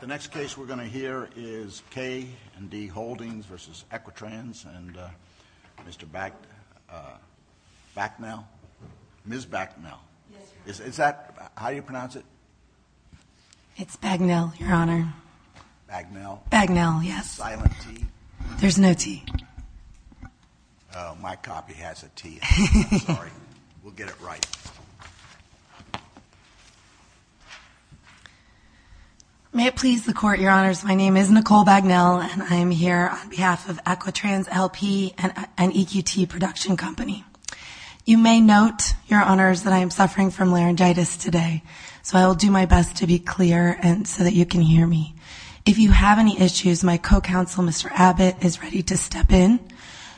The next case we're going to hear is K & D Holdings v. Equitrans and Mr. Bagnall, Ms. Bagnall. Is that, how do you pronounce it? It's Bagnall, Your Honor. Bagnall? Bagnall, yes. Silent T? There's no T. Oh, my copy has a T in it, I'm sorry. We'll get it right. May it please the Court, Your Honors, my name is Nicole Bagnall and I am here on behalf of Equitrans, L.P. and EQT Production Company. You may note, Your Honors, that I am suffering from laryngitis today, so I will do my best to be clear and so that you can hear me. If you have any issues, my co-counsel, Mr. Abbott, is ready to step in,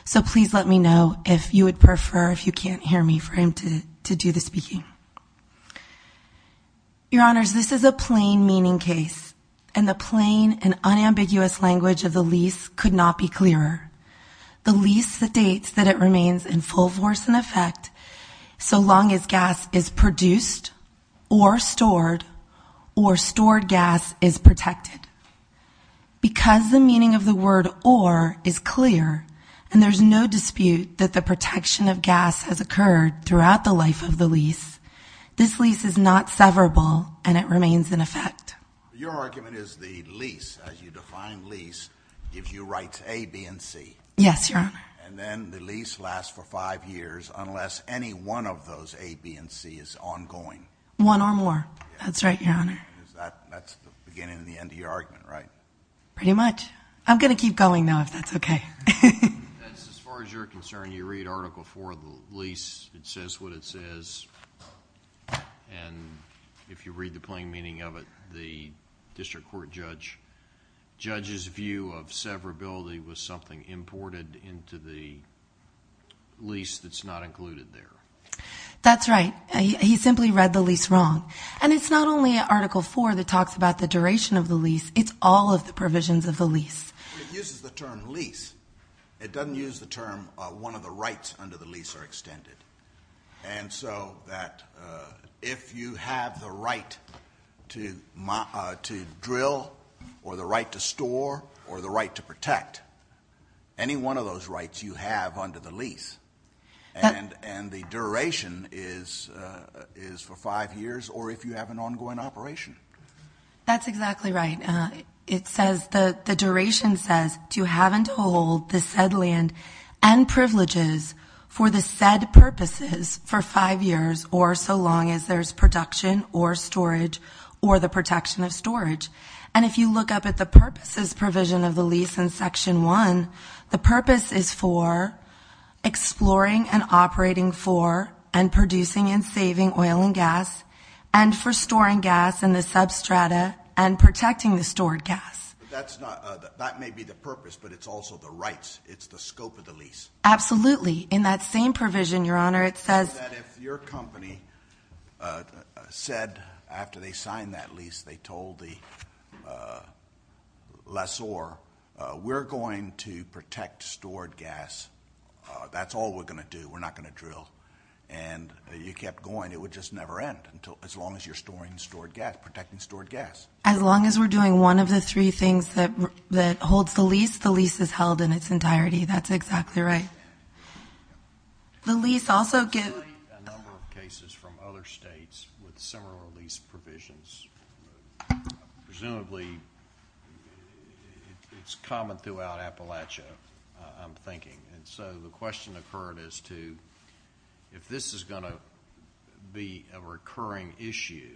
so please let me know if you would prefer, if you can't hear me, for him to do the speaking. Your Honors, this is a plain meaning case and the plain and unambiguous language of the lease could not be clearer. The lease states that it remains in full force and effect so long as gas is produced or stored or stored gas is protected. Because the meaning of the word or is clear and there's no dispute that the protection of gas has occurred throughout the life of the lease, this lease is not severable and it remains in effect. Your argument is the lease, as you define lease, gives you rights A, B, and C. Yes, Your Honor. And then the lease lasts for five years unless any one of those A, B, and C is ongoing. One or more. That's right, Your Honor. That's the beginning and the end of your argument, right? Pretty much. I'm going to keep going now if that's okay. As far as you're concerned, you read Article IV of the lease, it says what it says, and if you read the plain meaning of it, the district court judge's view of severability was something imported into the lease that's not included there. That's right. He simply read the lease wrong. And it's not only Article IV that talks about the duration of the lease, it's all of the provisions of the lease. It uses the term lease. It doesn't use the term one of the rights under the lease are extended. And so that if you have the right to drill or the right to store or the right to protect, any one of those rights you have under the lease. And the duration is for five years or if you have an ongoing operation. That's exactly right. It says the duration says to have and hold the said land and privileges for the said purposes for five years or so long as there's production or storage or the protection of storage. And if you look up at the purposes provision of the lease in Section 1, the purpose is for exploring and operating for and producing and saving oil and gas and for storing gas in the substrata and protecting the stored gas. That's not, that may be the purpose, but it's also the rights. It's the scope of the lease. Absolutely. In that same provision, Your Honor, it says that if your company said after they signed that lease, they told the lessor, we're going to protect stored gas. That's all we're going to do. We're not going to drill. And you kept going. It would just never end until as long as you're storing stored gas, protecting stored gas. As long as we're doing one of the three things that holds the lease, the lease is held in its entirety. That's exactly right. The lease also gives... We've had a number of cases from other states with similar lease provisions. Presumably, it's common throughout Appalachia, I'm thinking. And so the question occurred as to if this is going to be a recurring issue,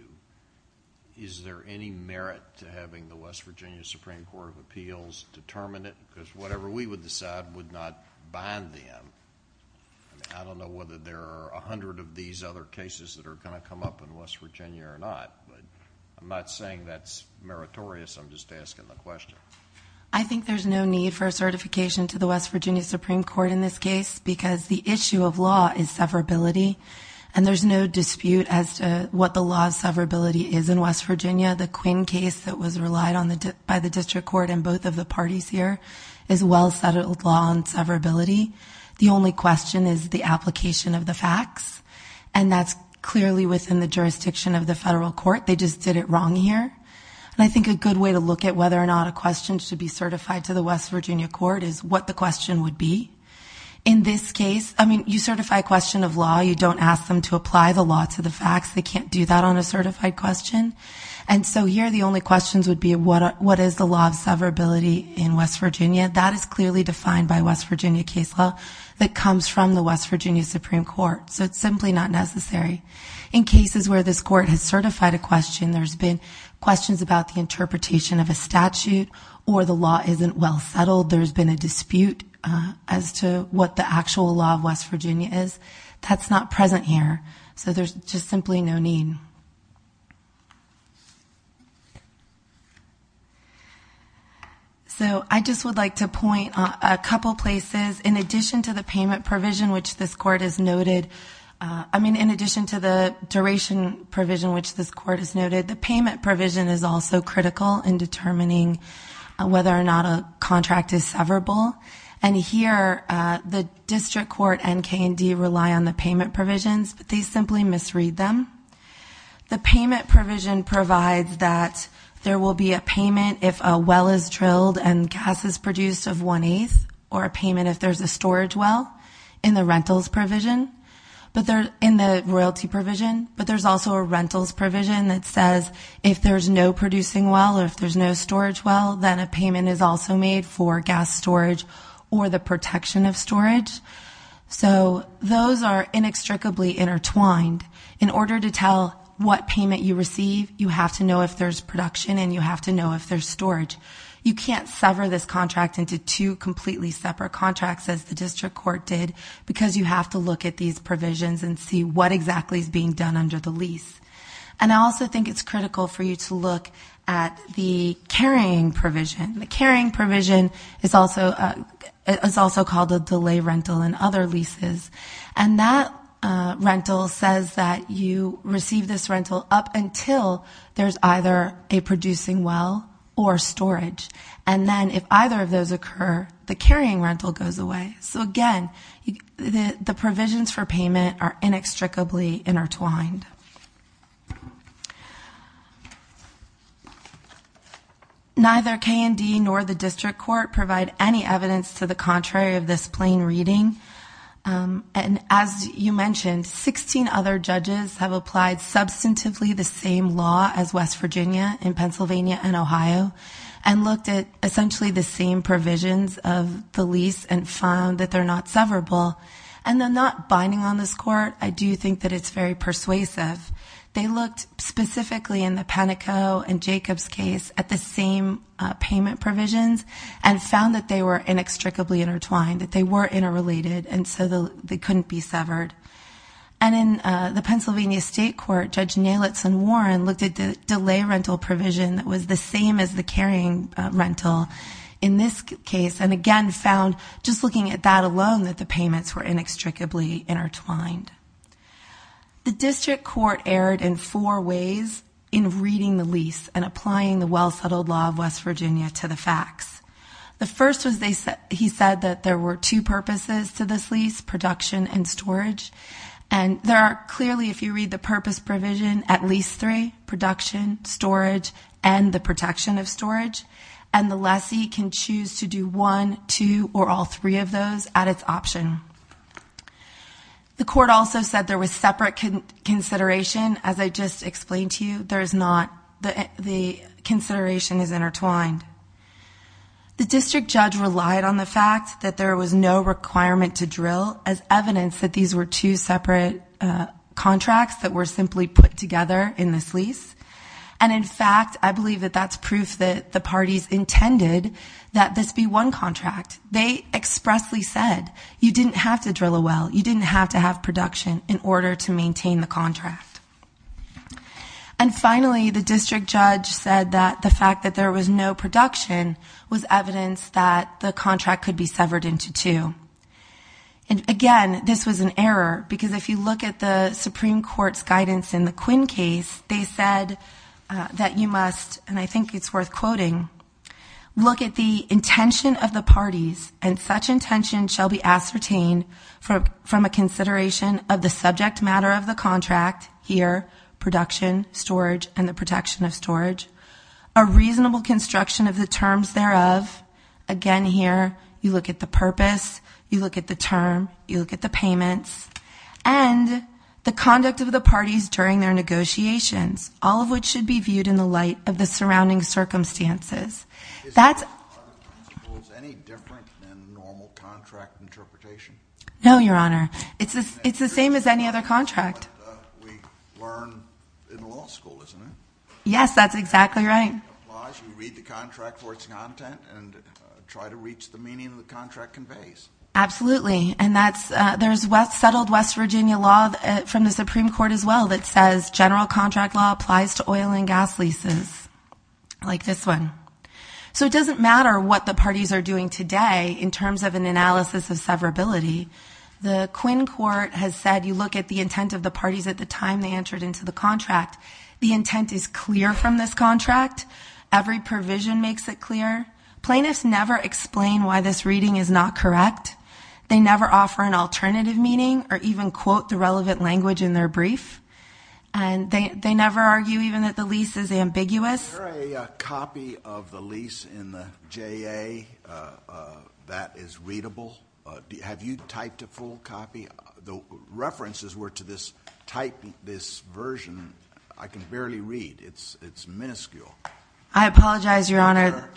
is there any merit to having the West Virginia Supreme Court of Appeals determine it? Because whatever we would decide would not bind them. I don't know whether there are a hundred of these other cases that are going to come up in West Virginia or not, but I'm not saying that's meritorious. I'm just asking the question. I think there's no need for a certification to the West Virginia Supreme Court in this case, because the issue of law is severability. And there's no dispute as to what the law of severability is in West Virginia. The Quinn case that was relied on by the district court and both of the parties here is well-settled law on severability. The only question is the application of the facts, and that's clearly within the jurisdiction of the federal court. They just did it wrong here. And I think a good way to look at whether or not a question should be certified to the West Virginia court is what the question would be. In this case, I mean, you certify a question of law. You don't ask them to apply the law to the facts. They can't do that on a certified question. And so here the only questions would be what is the law of severability in West Virginia. That is clearly defined by West Virginia case law that comes from the West Virginia Supreme Court. So it's simply not necessary. In cases where this court has certified a question, there's been questions about the interpretation of a statute or the law isn't well-settled. There's been a dispute as to what the actual law of West Virginia is. That's not present here. So there's just simply no need. So I just would like to point a couple places. In addition to the payment provision which this court has noted, I mean, in addition to the duration provision which this court has noted, the payment provision is also critical in determining whether or not a contract is severable. And here the district court and K&D rely on the payment provisions. But they simply misread them. The payment provision provides that there will be a payment if a well is drilled and gas is produced of one-eighth or a payment if there's a storage well in the rentals provision, in the royalty provision. But there's also a rentals provision that says if there's no producing well or if there's no storage well, then a payment is also made for gas storage or the protection of storage. So those are inextricably intertwined. In order to tell what payment you receive, you have to know if there's production and you have to know if there's storage. You can't sever this contract into two completely separate contracts as the district court did because you have to look at these provisions and see what exactly is being done under the lease. And I also think it's critical for you to look at the carrying provision. The carrying provision is also called a delay rental in other leases. And that rental says that you receive this rental up until there's either a producing well or storage. And then if either of those occur, the carrying rental goes away. So, again, the provisions for payment are inextricably intertwined. Neither K&D nor the district court provide any evidence to the contrary of this plain reading. And as you mentioned, 16 other judges have applied substantively the same law as West Virginia in Pennsylvania and Ohio and looked at essentially the same provisions of the lease and found that they're not severable. And they're not binding on this court. I do think that it's very persuasive. They looked specifically in the Penico and Jacob's case at the same payment provisions and found that they were inextricably intertwined, that they were interrelated, and so they couldn't be severed. And in the Pennsylvania State Court, Judge Neilitz and Warren looked at the delay rental provision that was the same as the carrying rental in this case and, again, found just looking at that alone that the payments were inextricably intertwined. The district court erred in four ways in reading the lease and applying the well-settled law of West Virginia to the facts. The first was he said that there were two purposes to this lease, production and storage. And there are clearly, if you read the purpose provision, at least three, production, storage, and the protection of storage. And the lessee can choose to do one, two, or all three of those at its option. The court also said there was separate consideration. As I just explained to you, the consideration is intertwined. The district judge relied on the fact that there was no requirement to drill as evidence that these were two separate contracts that were simply put together in this lease. And, in fact, I believe that that's proof that the parties intended that this be one contract. They expressly said you didn't have to drill a well, you didn't have to have production in order to maintain the contract. And, finally, the district judge said that the fact that there was no production was evidence that the contract could be severed into two. And, again, this was an error because if you look at the Supreme Court's guidance in the Quinn case, they said that you must, and I think it's worth quoting, look at the intention of the parties, and such intention shall be ascertained from a consideration of the subject matter of the contract, here, production, storage, and the protection of storage. A reasonable construction of the terms thereof, again, here, you look at the purpose, you look at the term, you look at the payments. And the conduct of the parties during their negotiations, all of which should be viewed in the light of the surrounding circumstances. Is that any different than normal contract interpretation? No, Your Honor. It's the same as any other contract. We learn in law school, isn't it? Yes, that's exactly right. You read the contract for its content and try to reach the meaning of the contract conveys. Absolutely. And there's settled West Virginia law from the Supreme Court, as well, that says general contract law applies to oil and gas leases, like this one. So it doesn't matter what the parties are doing today in terms of an analysis of severability. The Quinn Court has said you look at the intent of the parties at the time they entered into the contract. The intent is clear from this contract. Every provision makes it clear. Plaintiffs never explain why this reading is not correct. They never offer an alternative meaning or even quote the relevant language in their brief. And they never argue even that the lease is ambiguous. Is there a copy of the lease in the JA that is readable? Have you typed a full copy? The references were to this type, this version. I can barely read. It's minuscule. I apologize, Your Honor.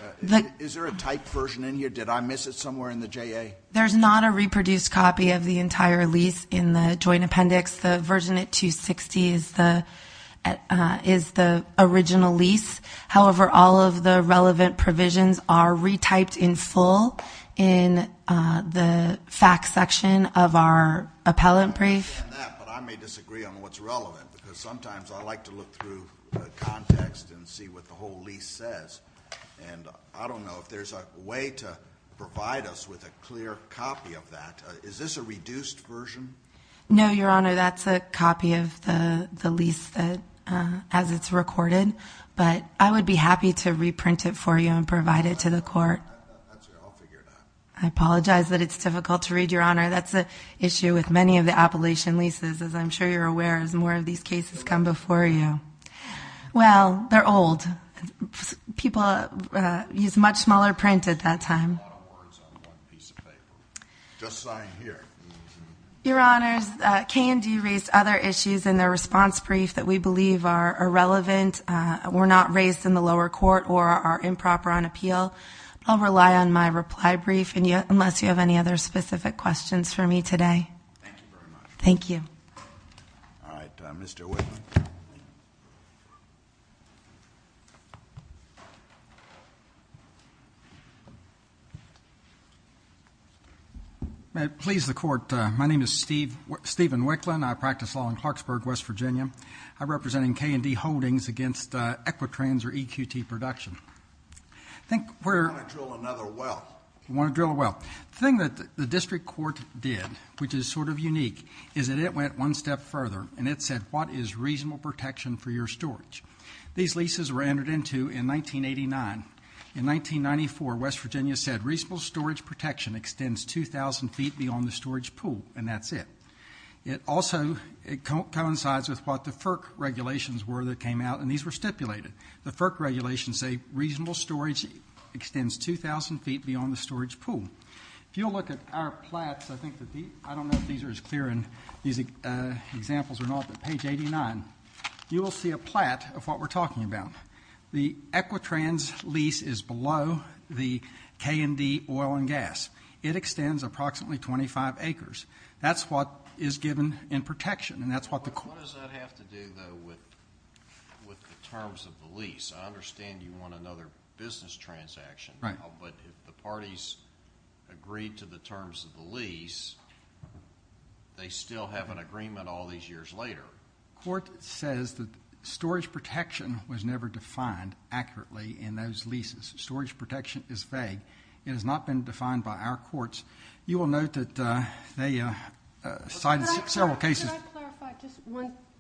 Is there a typed version in here? Did I miss it somewhere in the JA? There's not a reproduced copy of the entire lease in the joint appendix. The version at 260 is the original lease. However, all of the relevant provisions are retyped in full in the facts section of our appellant brief. I understand that, but I may disagree on what's relevant because sometimes I like to look through the context and see what the whole lease says. And I don't know if there's a way to provide us with a clear copy of that. Is this a reduced version? No, Your Honor. That's a copy of the lease as it's recorded. But I would be happy to reprint it for you and provide it to the court. I'll figure it out. I apologize that it's difficult to read, Your Honor. That's an issue with many of the appellation leases, as I'm sure you're aware, as more of these cases come before you. Well, they're old. People use much smaller print at that time. Just sign here. Your Honors, K&D raised other issues in their response brief that we believe are irrelevant, were not raised in the lower court, or are improper on appeal. I'll rely on my reply brief unless you have any other specific questions for me today. Thank you very much. Thank you. All right. Mr. Whitman. May it please the Court. My name is Stephen Whitman. I practice law in Clarksburg, West Virginia. I'm representing K&D Holdings against Equitrans or EQT production. I think we're going to drill another well. You want to drill a well. The thing that the district court did, which is sort of unique, is that it went one step further, and it said, what is reasonable protection for your storage? These leases were entered into in 1989. In 1994, West Virginia said, reasonable storage protection extends 2,000 feet beyond the storage pool, and that's it. It also coincides with what the FERC regulations were that came out, and these were stipulated. The FERC regulations say reasonable storage extends 2,000 feet beyond the storage pool. If you'll look at our plats, I don't know if these are as clear in these examples or not, but page 89, you will see a plat of what we're talking about. The Equitrans lease is below the K&D oil and gas. It extends approximately 25 acres. That's what is given in protection. What does that have to do, though, with the terms of the lease? I understand you want another business transaction now, but if the parties agreed to the terms of the lease, they still have an agreement all these years later. The court says that storage protection was never defined accurately in those leases. Storage protection is vague. It has not been defined by our courts. You will note that they cited several cases. Can I clarify just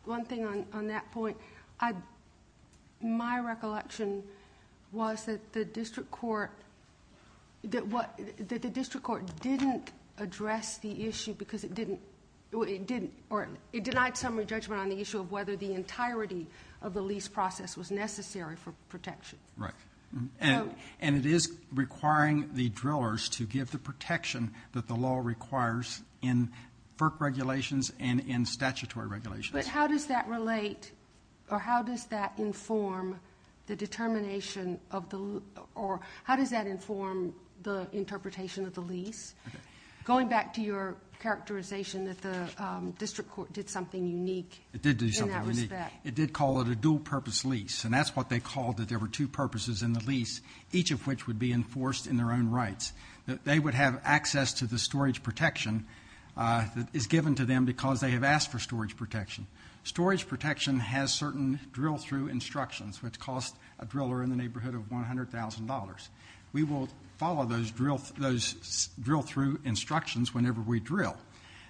one thing on that point? My recollection was that the district court didn't address the issue because it didn't or it denied summary judgment on the issue of whether the entirety of the lease process was necessary for protection. Right. And it is requiring the drillers to give the protection that the law requires in FERC regulations and in statutory regulations. But how does that relate or how does that inform the determination of the or how does that inform the interpretation of the lease? Going back to your characterization that the district court did something unique in that respect. It did do something unique. It did call it a dual-purpose lease, and that's what they called it. There were two purposes in the lease, each of which would be enforced in their own rights. They would have access to the storage protection that is given to them because they have asked for storage protection. Storage protection has certain drill-through instructions, which cost a driller in the neighborhood of $100,000. We will follow those drill-through instructions whenever we drill.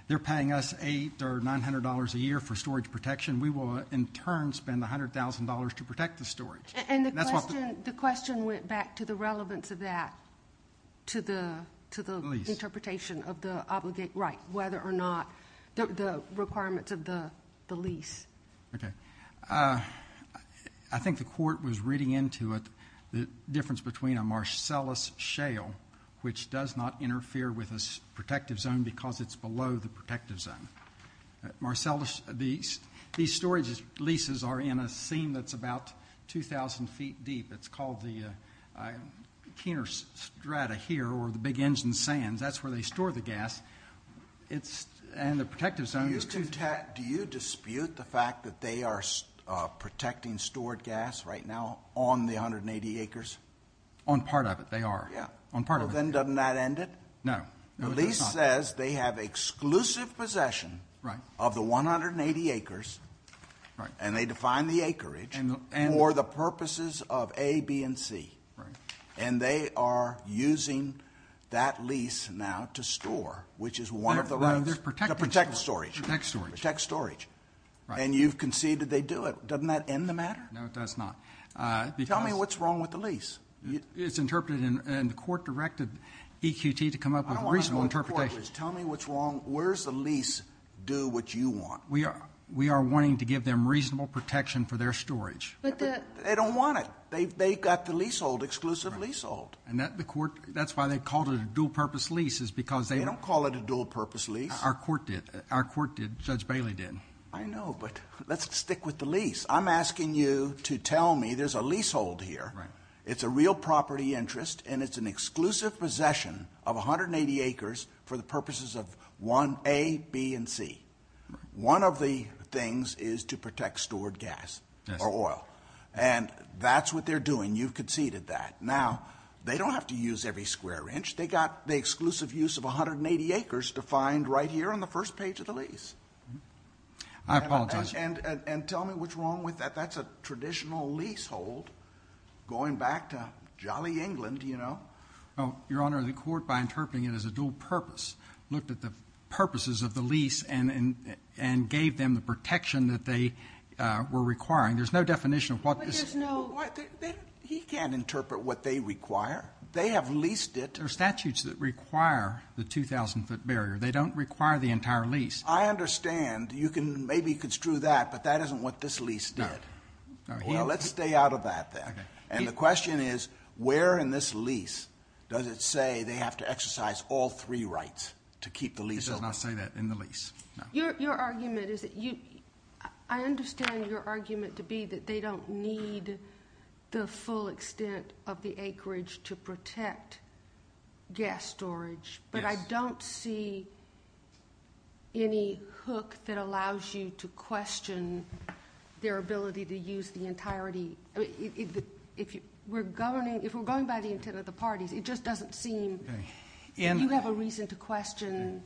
They're paying us $800 or $900 a year for storage protection. We will, in turn, spend $100,000 to protect the storage. And the question went back to the relevance of that to the interpretation of the obligate right, whether or not the requirements of the lease. Okay. I think the court was reading into it the difference between a Marcellus shale, which does not interfere with a protective zone because it's below the protective zone. Marcellus, these storage leases are in a seam that's about 2,000 feet deep. It's called the Kiener Strata here or the big engine sands. That's where they store the gas. And the protective zone is 2,000 feet. Do you dispute the fact that they are protecting stored gas right now on the 180 acres? On part of it, they are. Yeah. On part of it. Well, then doesn't that end it? No. No, it does not. The lease says they have exclusive possession of the 180 acres. Right. And they define the acreage for the purposes of A, B, and C. Right. And they are using that lease now to store, which is one of the rights. To protect storage. Protect storage. Protect storage. Right. And you've conceded they do it. Doesn't that end the matter? No, it does not. Tell me what's wrong with the lease. It's interpreted and the court directed EQT to come up with a reasonable interpretation. Tell me what's wrong. Where's the lease do what you want? We are wanting to give them reasonable protection for their storage. But they don't want it. They've got the leasehold, exclusive leasehold. And that's why they called it a dual-purpose lease is because they don't call it a dual-purpose lease. Our court did. Our court did. Judge Bailey did. I know. But let's stick with the lease. I'm asking you to tell me there's a leasehold here. Right. It's a real property interest. And it's an exclusive possession of 180 acres for the purposes of A, B, and C. One of the things is to protect stored gas. Yes. Or oil. And that's what they're doing. You've conceded that. Now, they don't have to use every square inch. They've got the exclusive use of 180 acres to find right here on the first page of the lease. I apologize. And tell me what's wrong with that. That's a traditional leasehold going back to jolly England, you know. Your Honor, the court, by interpreting it as a dual-purpose, looked at the purposes of the lease and gave them the protection that they were requiring. There's no definition of what this is. He can't interpret what they require. They have leased it. There are statutes that require the 2,000-foot barrier. They don't require the entire lease. I understand. You can maybe construe that, but that isn't what this lease did. No. Well, let's stay out of that, then. Okay. And the question is, where in this lease does it say they have to exercise all three rights to keep the leasehold? It does not say that in the lease. Your argument is that you ‑‑ I understand your argument to be that they don't need the full extent of the acreage to protect gas storage. Yes. But I don't see any hook that allows you to question their ability to use the entirety. If we're going by the intent of the parties, it just doesn't seem. You have a reason to question,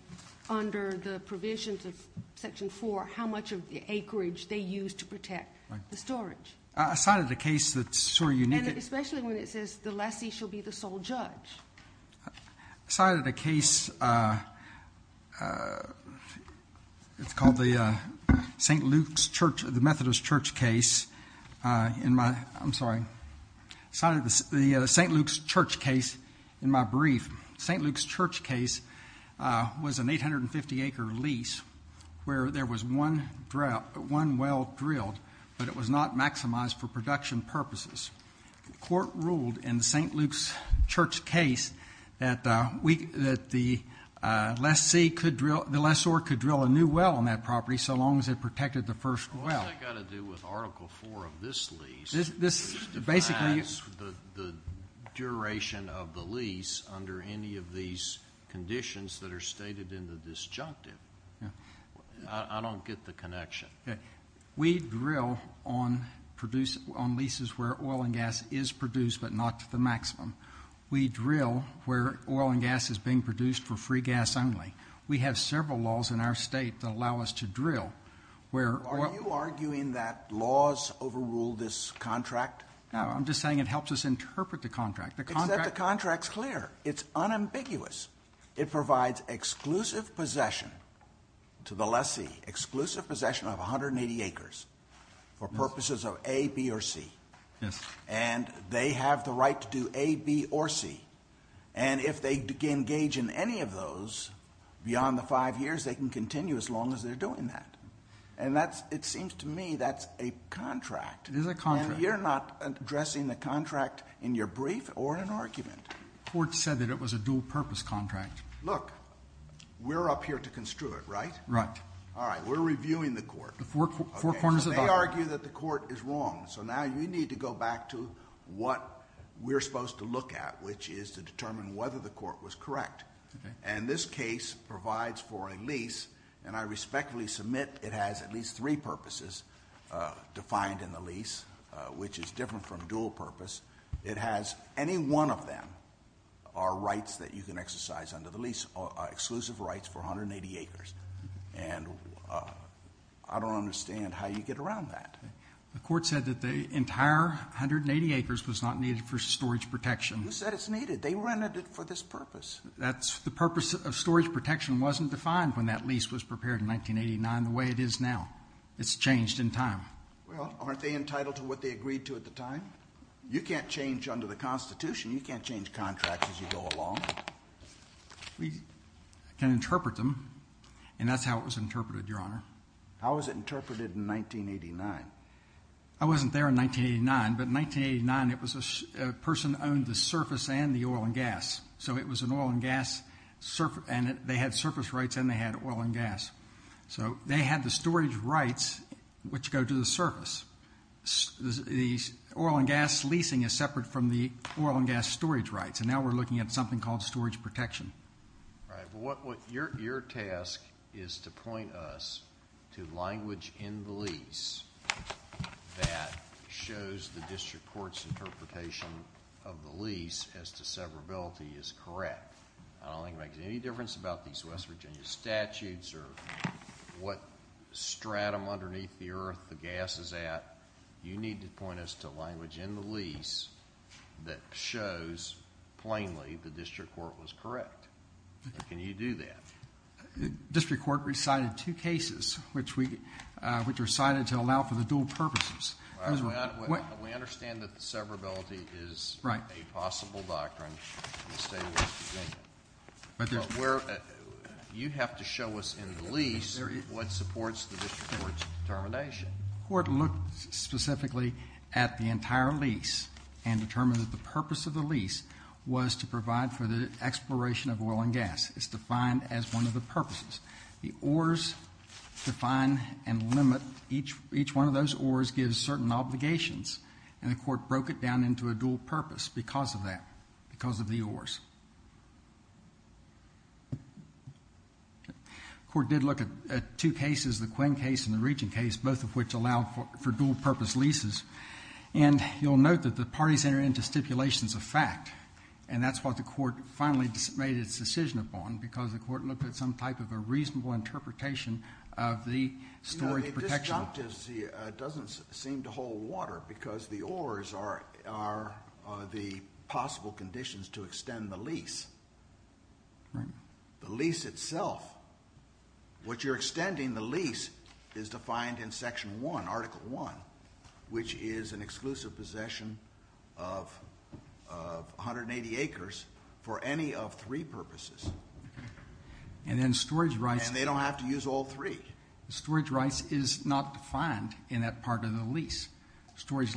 under the provisions of Section 4, how much of the acreage they used to protect the storage. I cited a case that's sort of unique. And especially when it says the lessee shall be the sole judge. I cited a case. It's called the St. Luke's Church ‑‑ the Methodist Church case in my ‑‑ I'm sorry. I cited the St. Luke's Church case in my brief. St. Luke's Church case was an 850‑acre lease where there was one well drilled, but it was not maximized for production purposes. The court ruled in the St. Luke's Church case that the lessee could drill ‑‑ the lessor could drill a new well on that property so long as it protected the first well. What's that got to do with Article 4 of this lease? This basically ‑‑ It defines the duration of the lease under any of these conditions that are stated in the disjunctive. I don't get the connection. We drill on leases where oil and gas is produced but not to the maximum. We drill where oil and gas is being produced for free gas only. We have several laws in our state that allow us to drill where oil ‑‑ Are you arguing that laws overrule this contract? No, I'm just saying it helps us interpret the contract. Except the contract's clear. It's unambiguous. It provides exclusive possession to the lessee, exclusive possession of 180 acres for purposes of A, B, or C. Yes. And they have the right to do A, B, or C. And if they engage in any of those beyond the five years, they can continue as long as they're doing that. And it seems to me that's a contract. It is a contract. And you're not addressing the contract in your brief or in an argument. The court said that it was a dual purpose contract. Look, we're up here to construe it, right? Right. All right. We're reviewing the court. Four corners of the bar. They argue that the court is wrong, so now you need to go back to what we're supposed to look at, which is to determine whether the court was correct. And this case provides for a lease, and I respectfully submit it has at least three purposes defined in the lease, which is different from dual purpose. It has any one of them are rights that you can exercise under the lease, exclusive rights for 180 acres. And I don't understand how you get around that. The court said that the entire 180 acres was not needed for storage protection. You said it's needed. They rented it for this purpose. The purpose of storage protection wasn't defined when that lease was prepared in 1989 the way it is now. It's changed in time. Well, aren't they entitled to what they agreed to at the time? You can't change under the Constitution. You can't change contracts as you go along. We can interpret them, and that's how it was interpreted, Your Honor. How was it interpreted in 1989? I wasn't there in 1989, but in 1989 it was a person owned the surface and the oil and gas. So it was an oil and gas, and they had surface rights and they had oil and gas. So they had the storage rights, which go to the surface. The oil and gas leasing is separate from the oil and gas storage rights, and now we're looking at something called storage protection. All right. Well, your task is to point us to language in the lease that shows the district court's interpretation of the lease as to severability is correct. I don't think it makes any difference about these West Virginia statutes or what stratum underneath the earth the gas is at. You need to point us to language in the lease that shows plainly the district court was correct. Can you do that? The district court recited two cases, which are cited to allow for the dual purposes. We understand that severability is a possible doctrine in the state of West Virginia. You have to show us in the lease what supports the district court's determination. The court looked specifically at the entire lease and determined that the purpose of the lease was to provide for the exploration of oil and gas. It's defined as one of the purposes. The oars define and limit each one of those oars gives certain obligations, and the court broke it down into a dual purpose because of that, because of the oars. The court did look at two cases, the Quinn case and the Regent case, both of which allowed for dual-purpose leases, and you'll note that the parties entered into stipulations of fact, and that's what the court finally made its decision upon because the court looked at some type of a reasonable interpretation of the storage protection. But this doctrine doesn't seem to hold water because the oars are the possible conditions to extend the lease. The lease itself, what you're extending the lease is defined in Section 1, Article 1, which is an exclusive possession of 180 acres for any of three purposes. And then storage rights. And they don't have to use all three. Storage rights is not defined in that part of the lease. Storage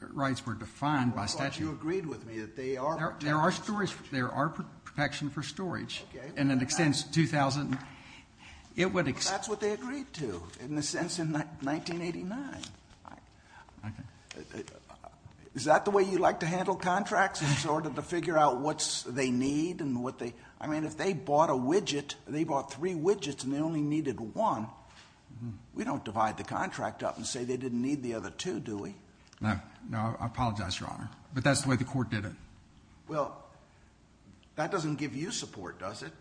rights were defined by statute. I thought you agreed with me that they are protections. There are protections for storage. Okay. And it extends to 2,000. That's what they agreed to, in a sense, in 1989. Is that the way you like to handle contracts in order to figure out what they need? I mean, if they bought a widget, they bought three widgets and they only needed one, we don't divide the contract up and say they didn't need the other two, do we? No. No, I apologize, Your Honor. But that's the way the court did it. Well, that doesn't give you support, does it?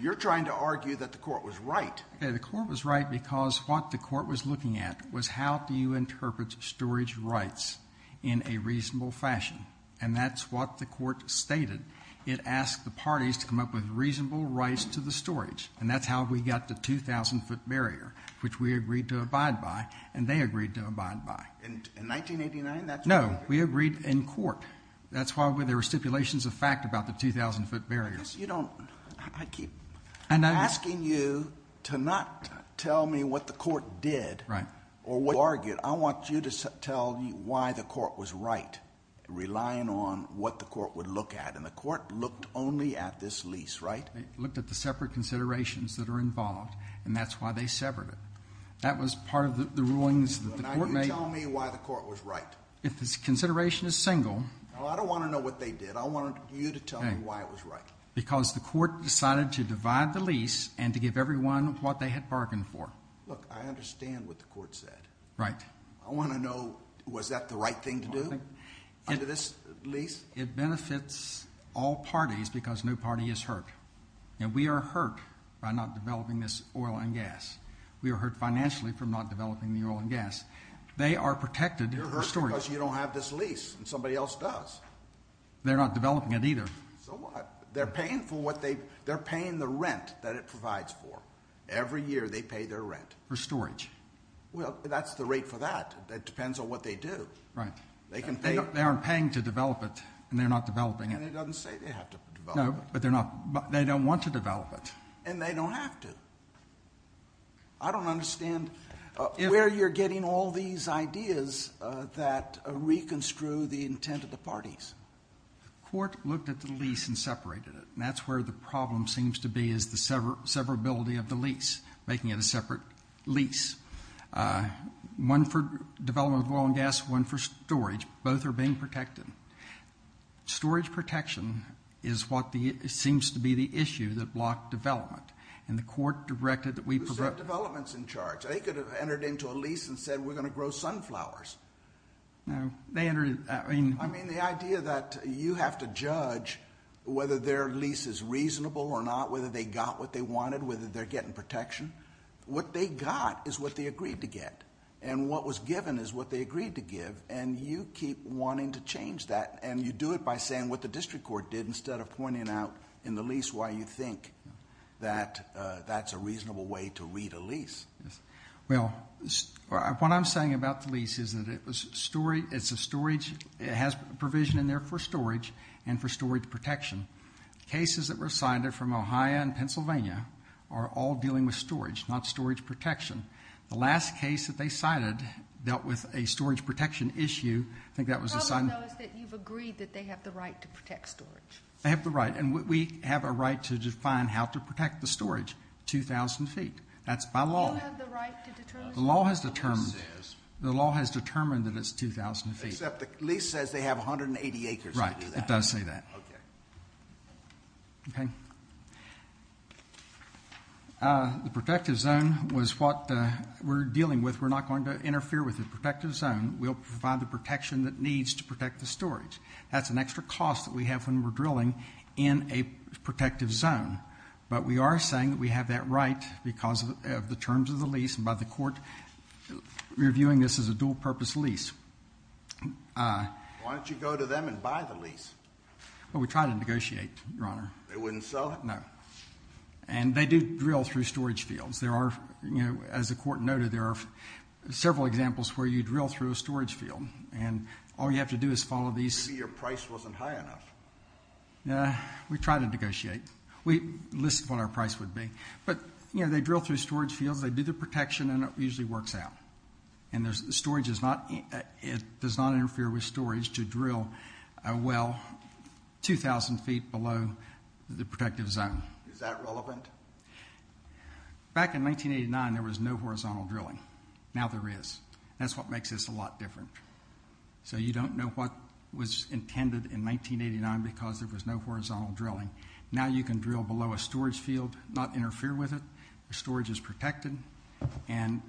You're trying to argue that the court was right. The court was right because what the court was looking at was how do you interpret storage rights in a reasonable fashion? And that's what the court stated. It asked the parties to come up with reasonable rights to the storage, and that's how we got the 2,000-foot barrier, which we agreed to abide by, and they agreed to abide by. In 1989? No, we agreed in court. That's why there were stipulations of fact about the 2,000-foot barrier. I'm asking you to not tell me what the court did or what you argued. I want you to tell me why the court was right, relying on what the court would look at, and the court looked only at this lease, right? It looked at the separate considerations that are involved, and that's why they severed it. That was part of the rulings that the court made. Now you tell me why the court was right. If the consideration is single. I don't want to know what they did. I want you to tell me why it was right. Because the court decided to divide the lease and to give everyone what they had bargained for. Look, I understand what the court said. Right. I want to know was that the right thing to do? Under this lease? It benefits all parties because no party is hurt. And we are hurt by not developing this oil and gas. We are hurt financially from not developing the oil and gas. They are protected. You're hurt because you don't have this lease, and somebody else does. They're not developing it either. So what? They're paying the rent that it provides for. Every year they pay their rent. For storage. Well, that's the rate for that. It depends on what they do. Right. They aren't paying to develop it, and they're not developing it. And it doesn't say they have to develop it. No, but they don't want to develop it. And they don't have to. I don't understand where you're getting all these ideas that reconstrue the intent of the parties. The court looked at the lease and separated it, and that's where the problem seems to be is the severability of the lease, making it a separate lease. One for development of oil and gas, one for storage. Both are being protected. Storage protection is what seems to be the issue that blocked development. And the court directed that we provide. Who said development's in charge? They could have entered into a lease and said, we're going to grow sunflowers. No, they entered it. I mean, the idea that you have to judge whether their lease is reasonable or not, whether they got what they wanted, whether they're getting protection. What they got is what they agreed to get. And what was given is what they agreed to give. And you keep wanting to change that. And you do it by saying what the district court did instead of pointing out in the lease why you think that that's a reasonable way to read a lease. Well, what I'm saying about the lease is that it has provision in there for storage and for storage protection. Cases that were cited from Ohio and Pennsylvania are all dealing with storage, not storage protection. The last case that they cited dealt with a storage protection issue. I think that was a sign. The problem, though, is that you've agreed that they have the right to protect storage. They have the right. And we have a right to define how to protect the storage, 2,000 feet. That's by law. Do you have the right to determine what the lease says? The law has determined that it's 2,000 feet. Except the lease says they have 180 acres to do that. Okay. Okay. The protective zone was what we're dealing with. We're not going to interfere with the protective zone. We'll provide the protection that needs to protect the storage. That's an extra cost that we have when we're drilling in a protective zone. But we are saying that we have that right because of the terms of the lease and by the court reviewing this as a dual-purpose lease. Why don't you go to them and buy the lease? Well, we try to negotiate, Your Honor. They wouldn't sell it? No. And they do drill through storage fields. There are, as the court noted, there are several examples where you drill through a storage field. And all you have to do is follow these. Maybe your price wasn't high enough. We try to negotiate. We list what our price would be. But, you know, they drill through storage fields, they do the protection, and it usually works out. And storage does not interfere with storage to drill a well 2,000 feet below the protective zone. Is that relevant? Back in 1989, there was no horizontal drilling. Now there is. That's what makes this a lot different. So you don't know what was intended in 1989 because there was no horizontal drilling. Now you can drill below a storage field, not interfere with it. The storage is protected. And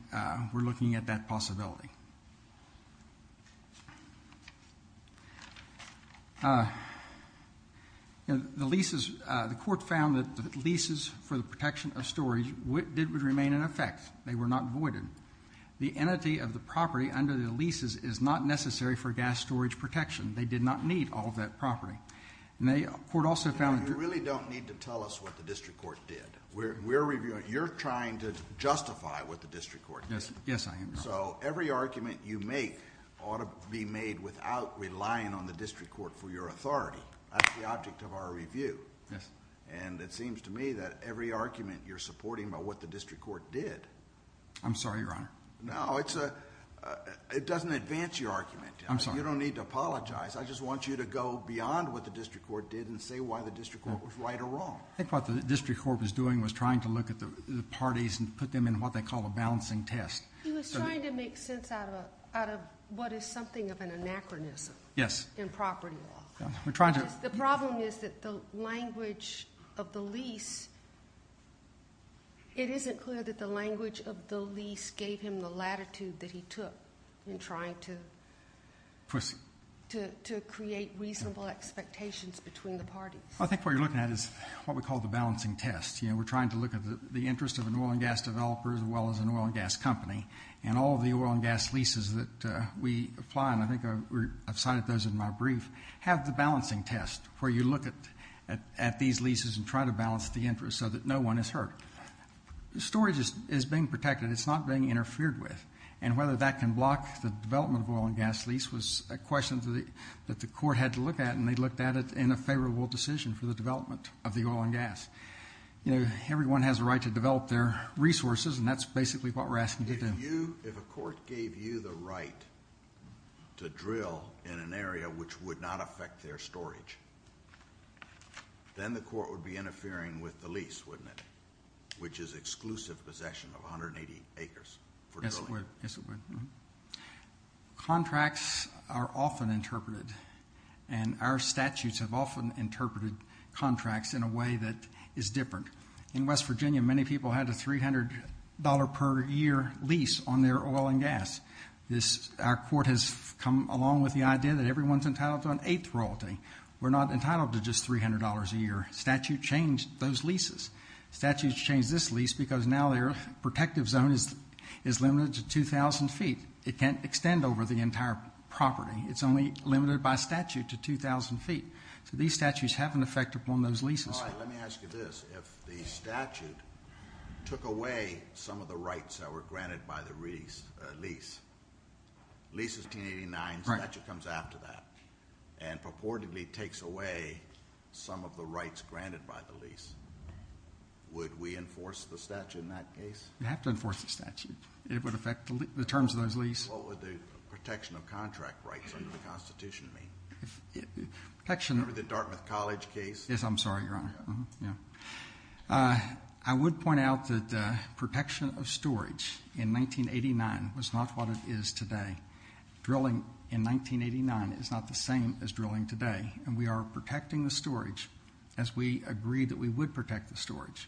we're looking at that possibility. The leases, the court found that the leases for the protection of storage would remain in effect. They were not voided. The entity of the property under the leases is not necessary for gas storage protection. They did not need all of that property. Now, the court also found that you really don't need to tell us what the district court did. You're trying to justify what the district court did. Yes, I am. So every argument you make ought to be made without relying on the district court for your authority. That's the object of our review. And it seems to me that every argument you're supporting about what the district court did... I'm sorry, Your Honor. No, it doesn't advance your argument. I'm sorry. You don't need to apologize. I just want you to go beyond what the district court did and say why the district court was right or wrong. I think what the district court was doing was trying to look at the parties and put them in what they call a balancing test. He was trying to make sense out of what is something of an anachronism in property law. Yes. We're trying to... The problem is that the language of the lease... It isn't clear that the language of the lease gave him the latitude that he took in trying to create reasonable expectations between the parties. I think what you're looking at is what we call the balancing test. You know, we're trying to look at the interest of an oil and gas developer, as well as an oil and gas company. And all of the oil and gas leases that we apply, and I think I've cited those in my brief, have the balancing test, where you look at these leases and try to balance the interest so that no one is hurt. The storage is being protected. It's not being interfered with. And whether that can block the development of an oil and gas lease was a question that the court had to look at. And they looked at it in a favorable decision for the development of the oil and gas. You know, everyone has a right to develop their resources, and that's basically what we're asking to do. If a court gave you the right to drill in an area which would not affect their storage, then the court would be interfering with the lease, wouldn't it, which is exclusive possession of 180 acres for drilling. Yes, it would. Contracts are often interpreted, and our statutes have often interpreted contracts in a way that is different. In West Virginia, many people had a $300 per year lease on their oil and gas. Our court has come along with the idea that everyone's entitled to an eighth royalty. We're not entitled to just $300 a year. Statute changed those leases. Statutes changed this lease because now their protective zone is limited to 2,000 feet. It can't extend over the entire property. It's only limited by statute to 2,000 feet. So these statutes have an effect upon those leases. All right, let me ask you this. If the statute took away some of the rights that were granted by the lease, lease is 1889, statute comes after that, and purportedly takes away some of the rights granted by the lease, would we enforce the statute in that case? You'd have to enforce the statute. It would affect the terms of those leases. What would the protection of contract rights under the Constitution mean? Remember the Dartmouth College case? Yes, I'm sorry, Your Honor. I would point out that protection of storage in 1989 was not what it is today. Drilling in 1989 is not the same as drilling today, and we are protecting the storage as we agreed that we would protect the storage.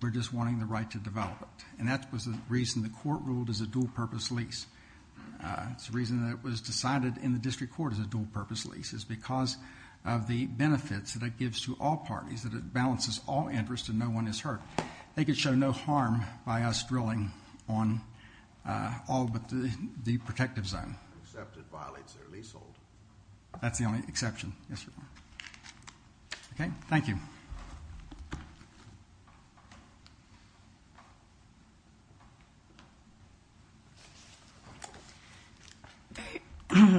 We're just wanting the right to develop it, and that was the reason the court ruled as a dual-purpose lease. It's the reason that it was decided in the district court as a dual-purpose lease, is because of the benefits that it gives to all parties, that it balances all interests and no one is hurt. They could show no harm by us drilling on all but the protective zone. Except it violates their leasehold. That's the only exception, yes, Your Honor. Okay, thank you.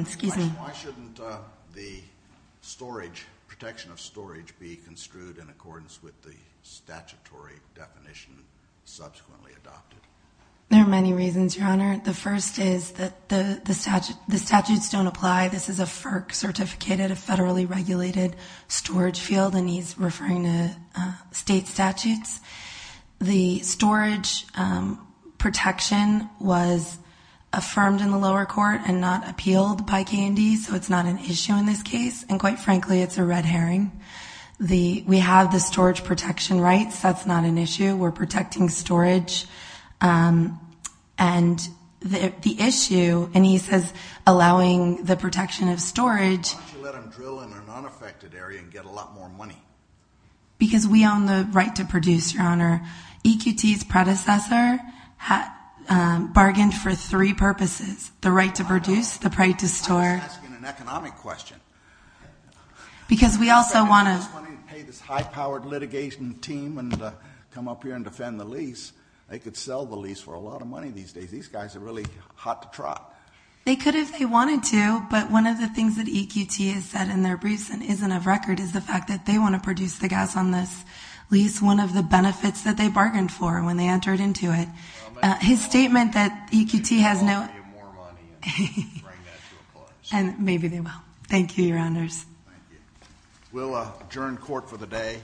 Excuse me. Why shouldn't the storage, protection of storage, be construed in accordance with the statutory definition subsequently adopted? There are many reasons, Your Honor. The first is that the statutes don't apply. This is a FERC-certificated, a federally regulated storage field, and he's referring to state statutes. The storage protection was affirmed in the lower court and not appealed by K&D, so it's not an issue in this case, and quite frankly, it's a red herring. We have the storage protection rights. That's not an issue. We're protecting storage, and the issue, and he says allowing the protection of storage. Why don't you let them drill in an unaffected area and get a lot more money? Because we own the right to produce, Your Honor. EQT's predecessor bargained for three purposes, the right to produce, the right to store. I was asking an economic question. Because we also want to. I thought they were just wanting to pay this high-powered litigation team and come up here and defend the lease. They could sell the lease for a lot of money these days. These guys are really hot to trot. They could if they wanted to, but one of the things that EQT has said in their briefs and isn't of record is the fact that they want to produce the guys on this lease, one of the benefits that they bargained for when they entered into it. His statement that EQT has no— Maybe they'll want to give you more money and bring that to a close. Maybe they will. Thank you, Your Honors. Thank you. We'll adjourn court for the day.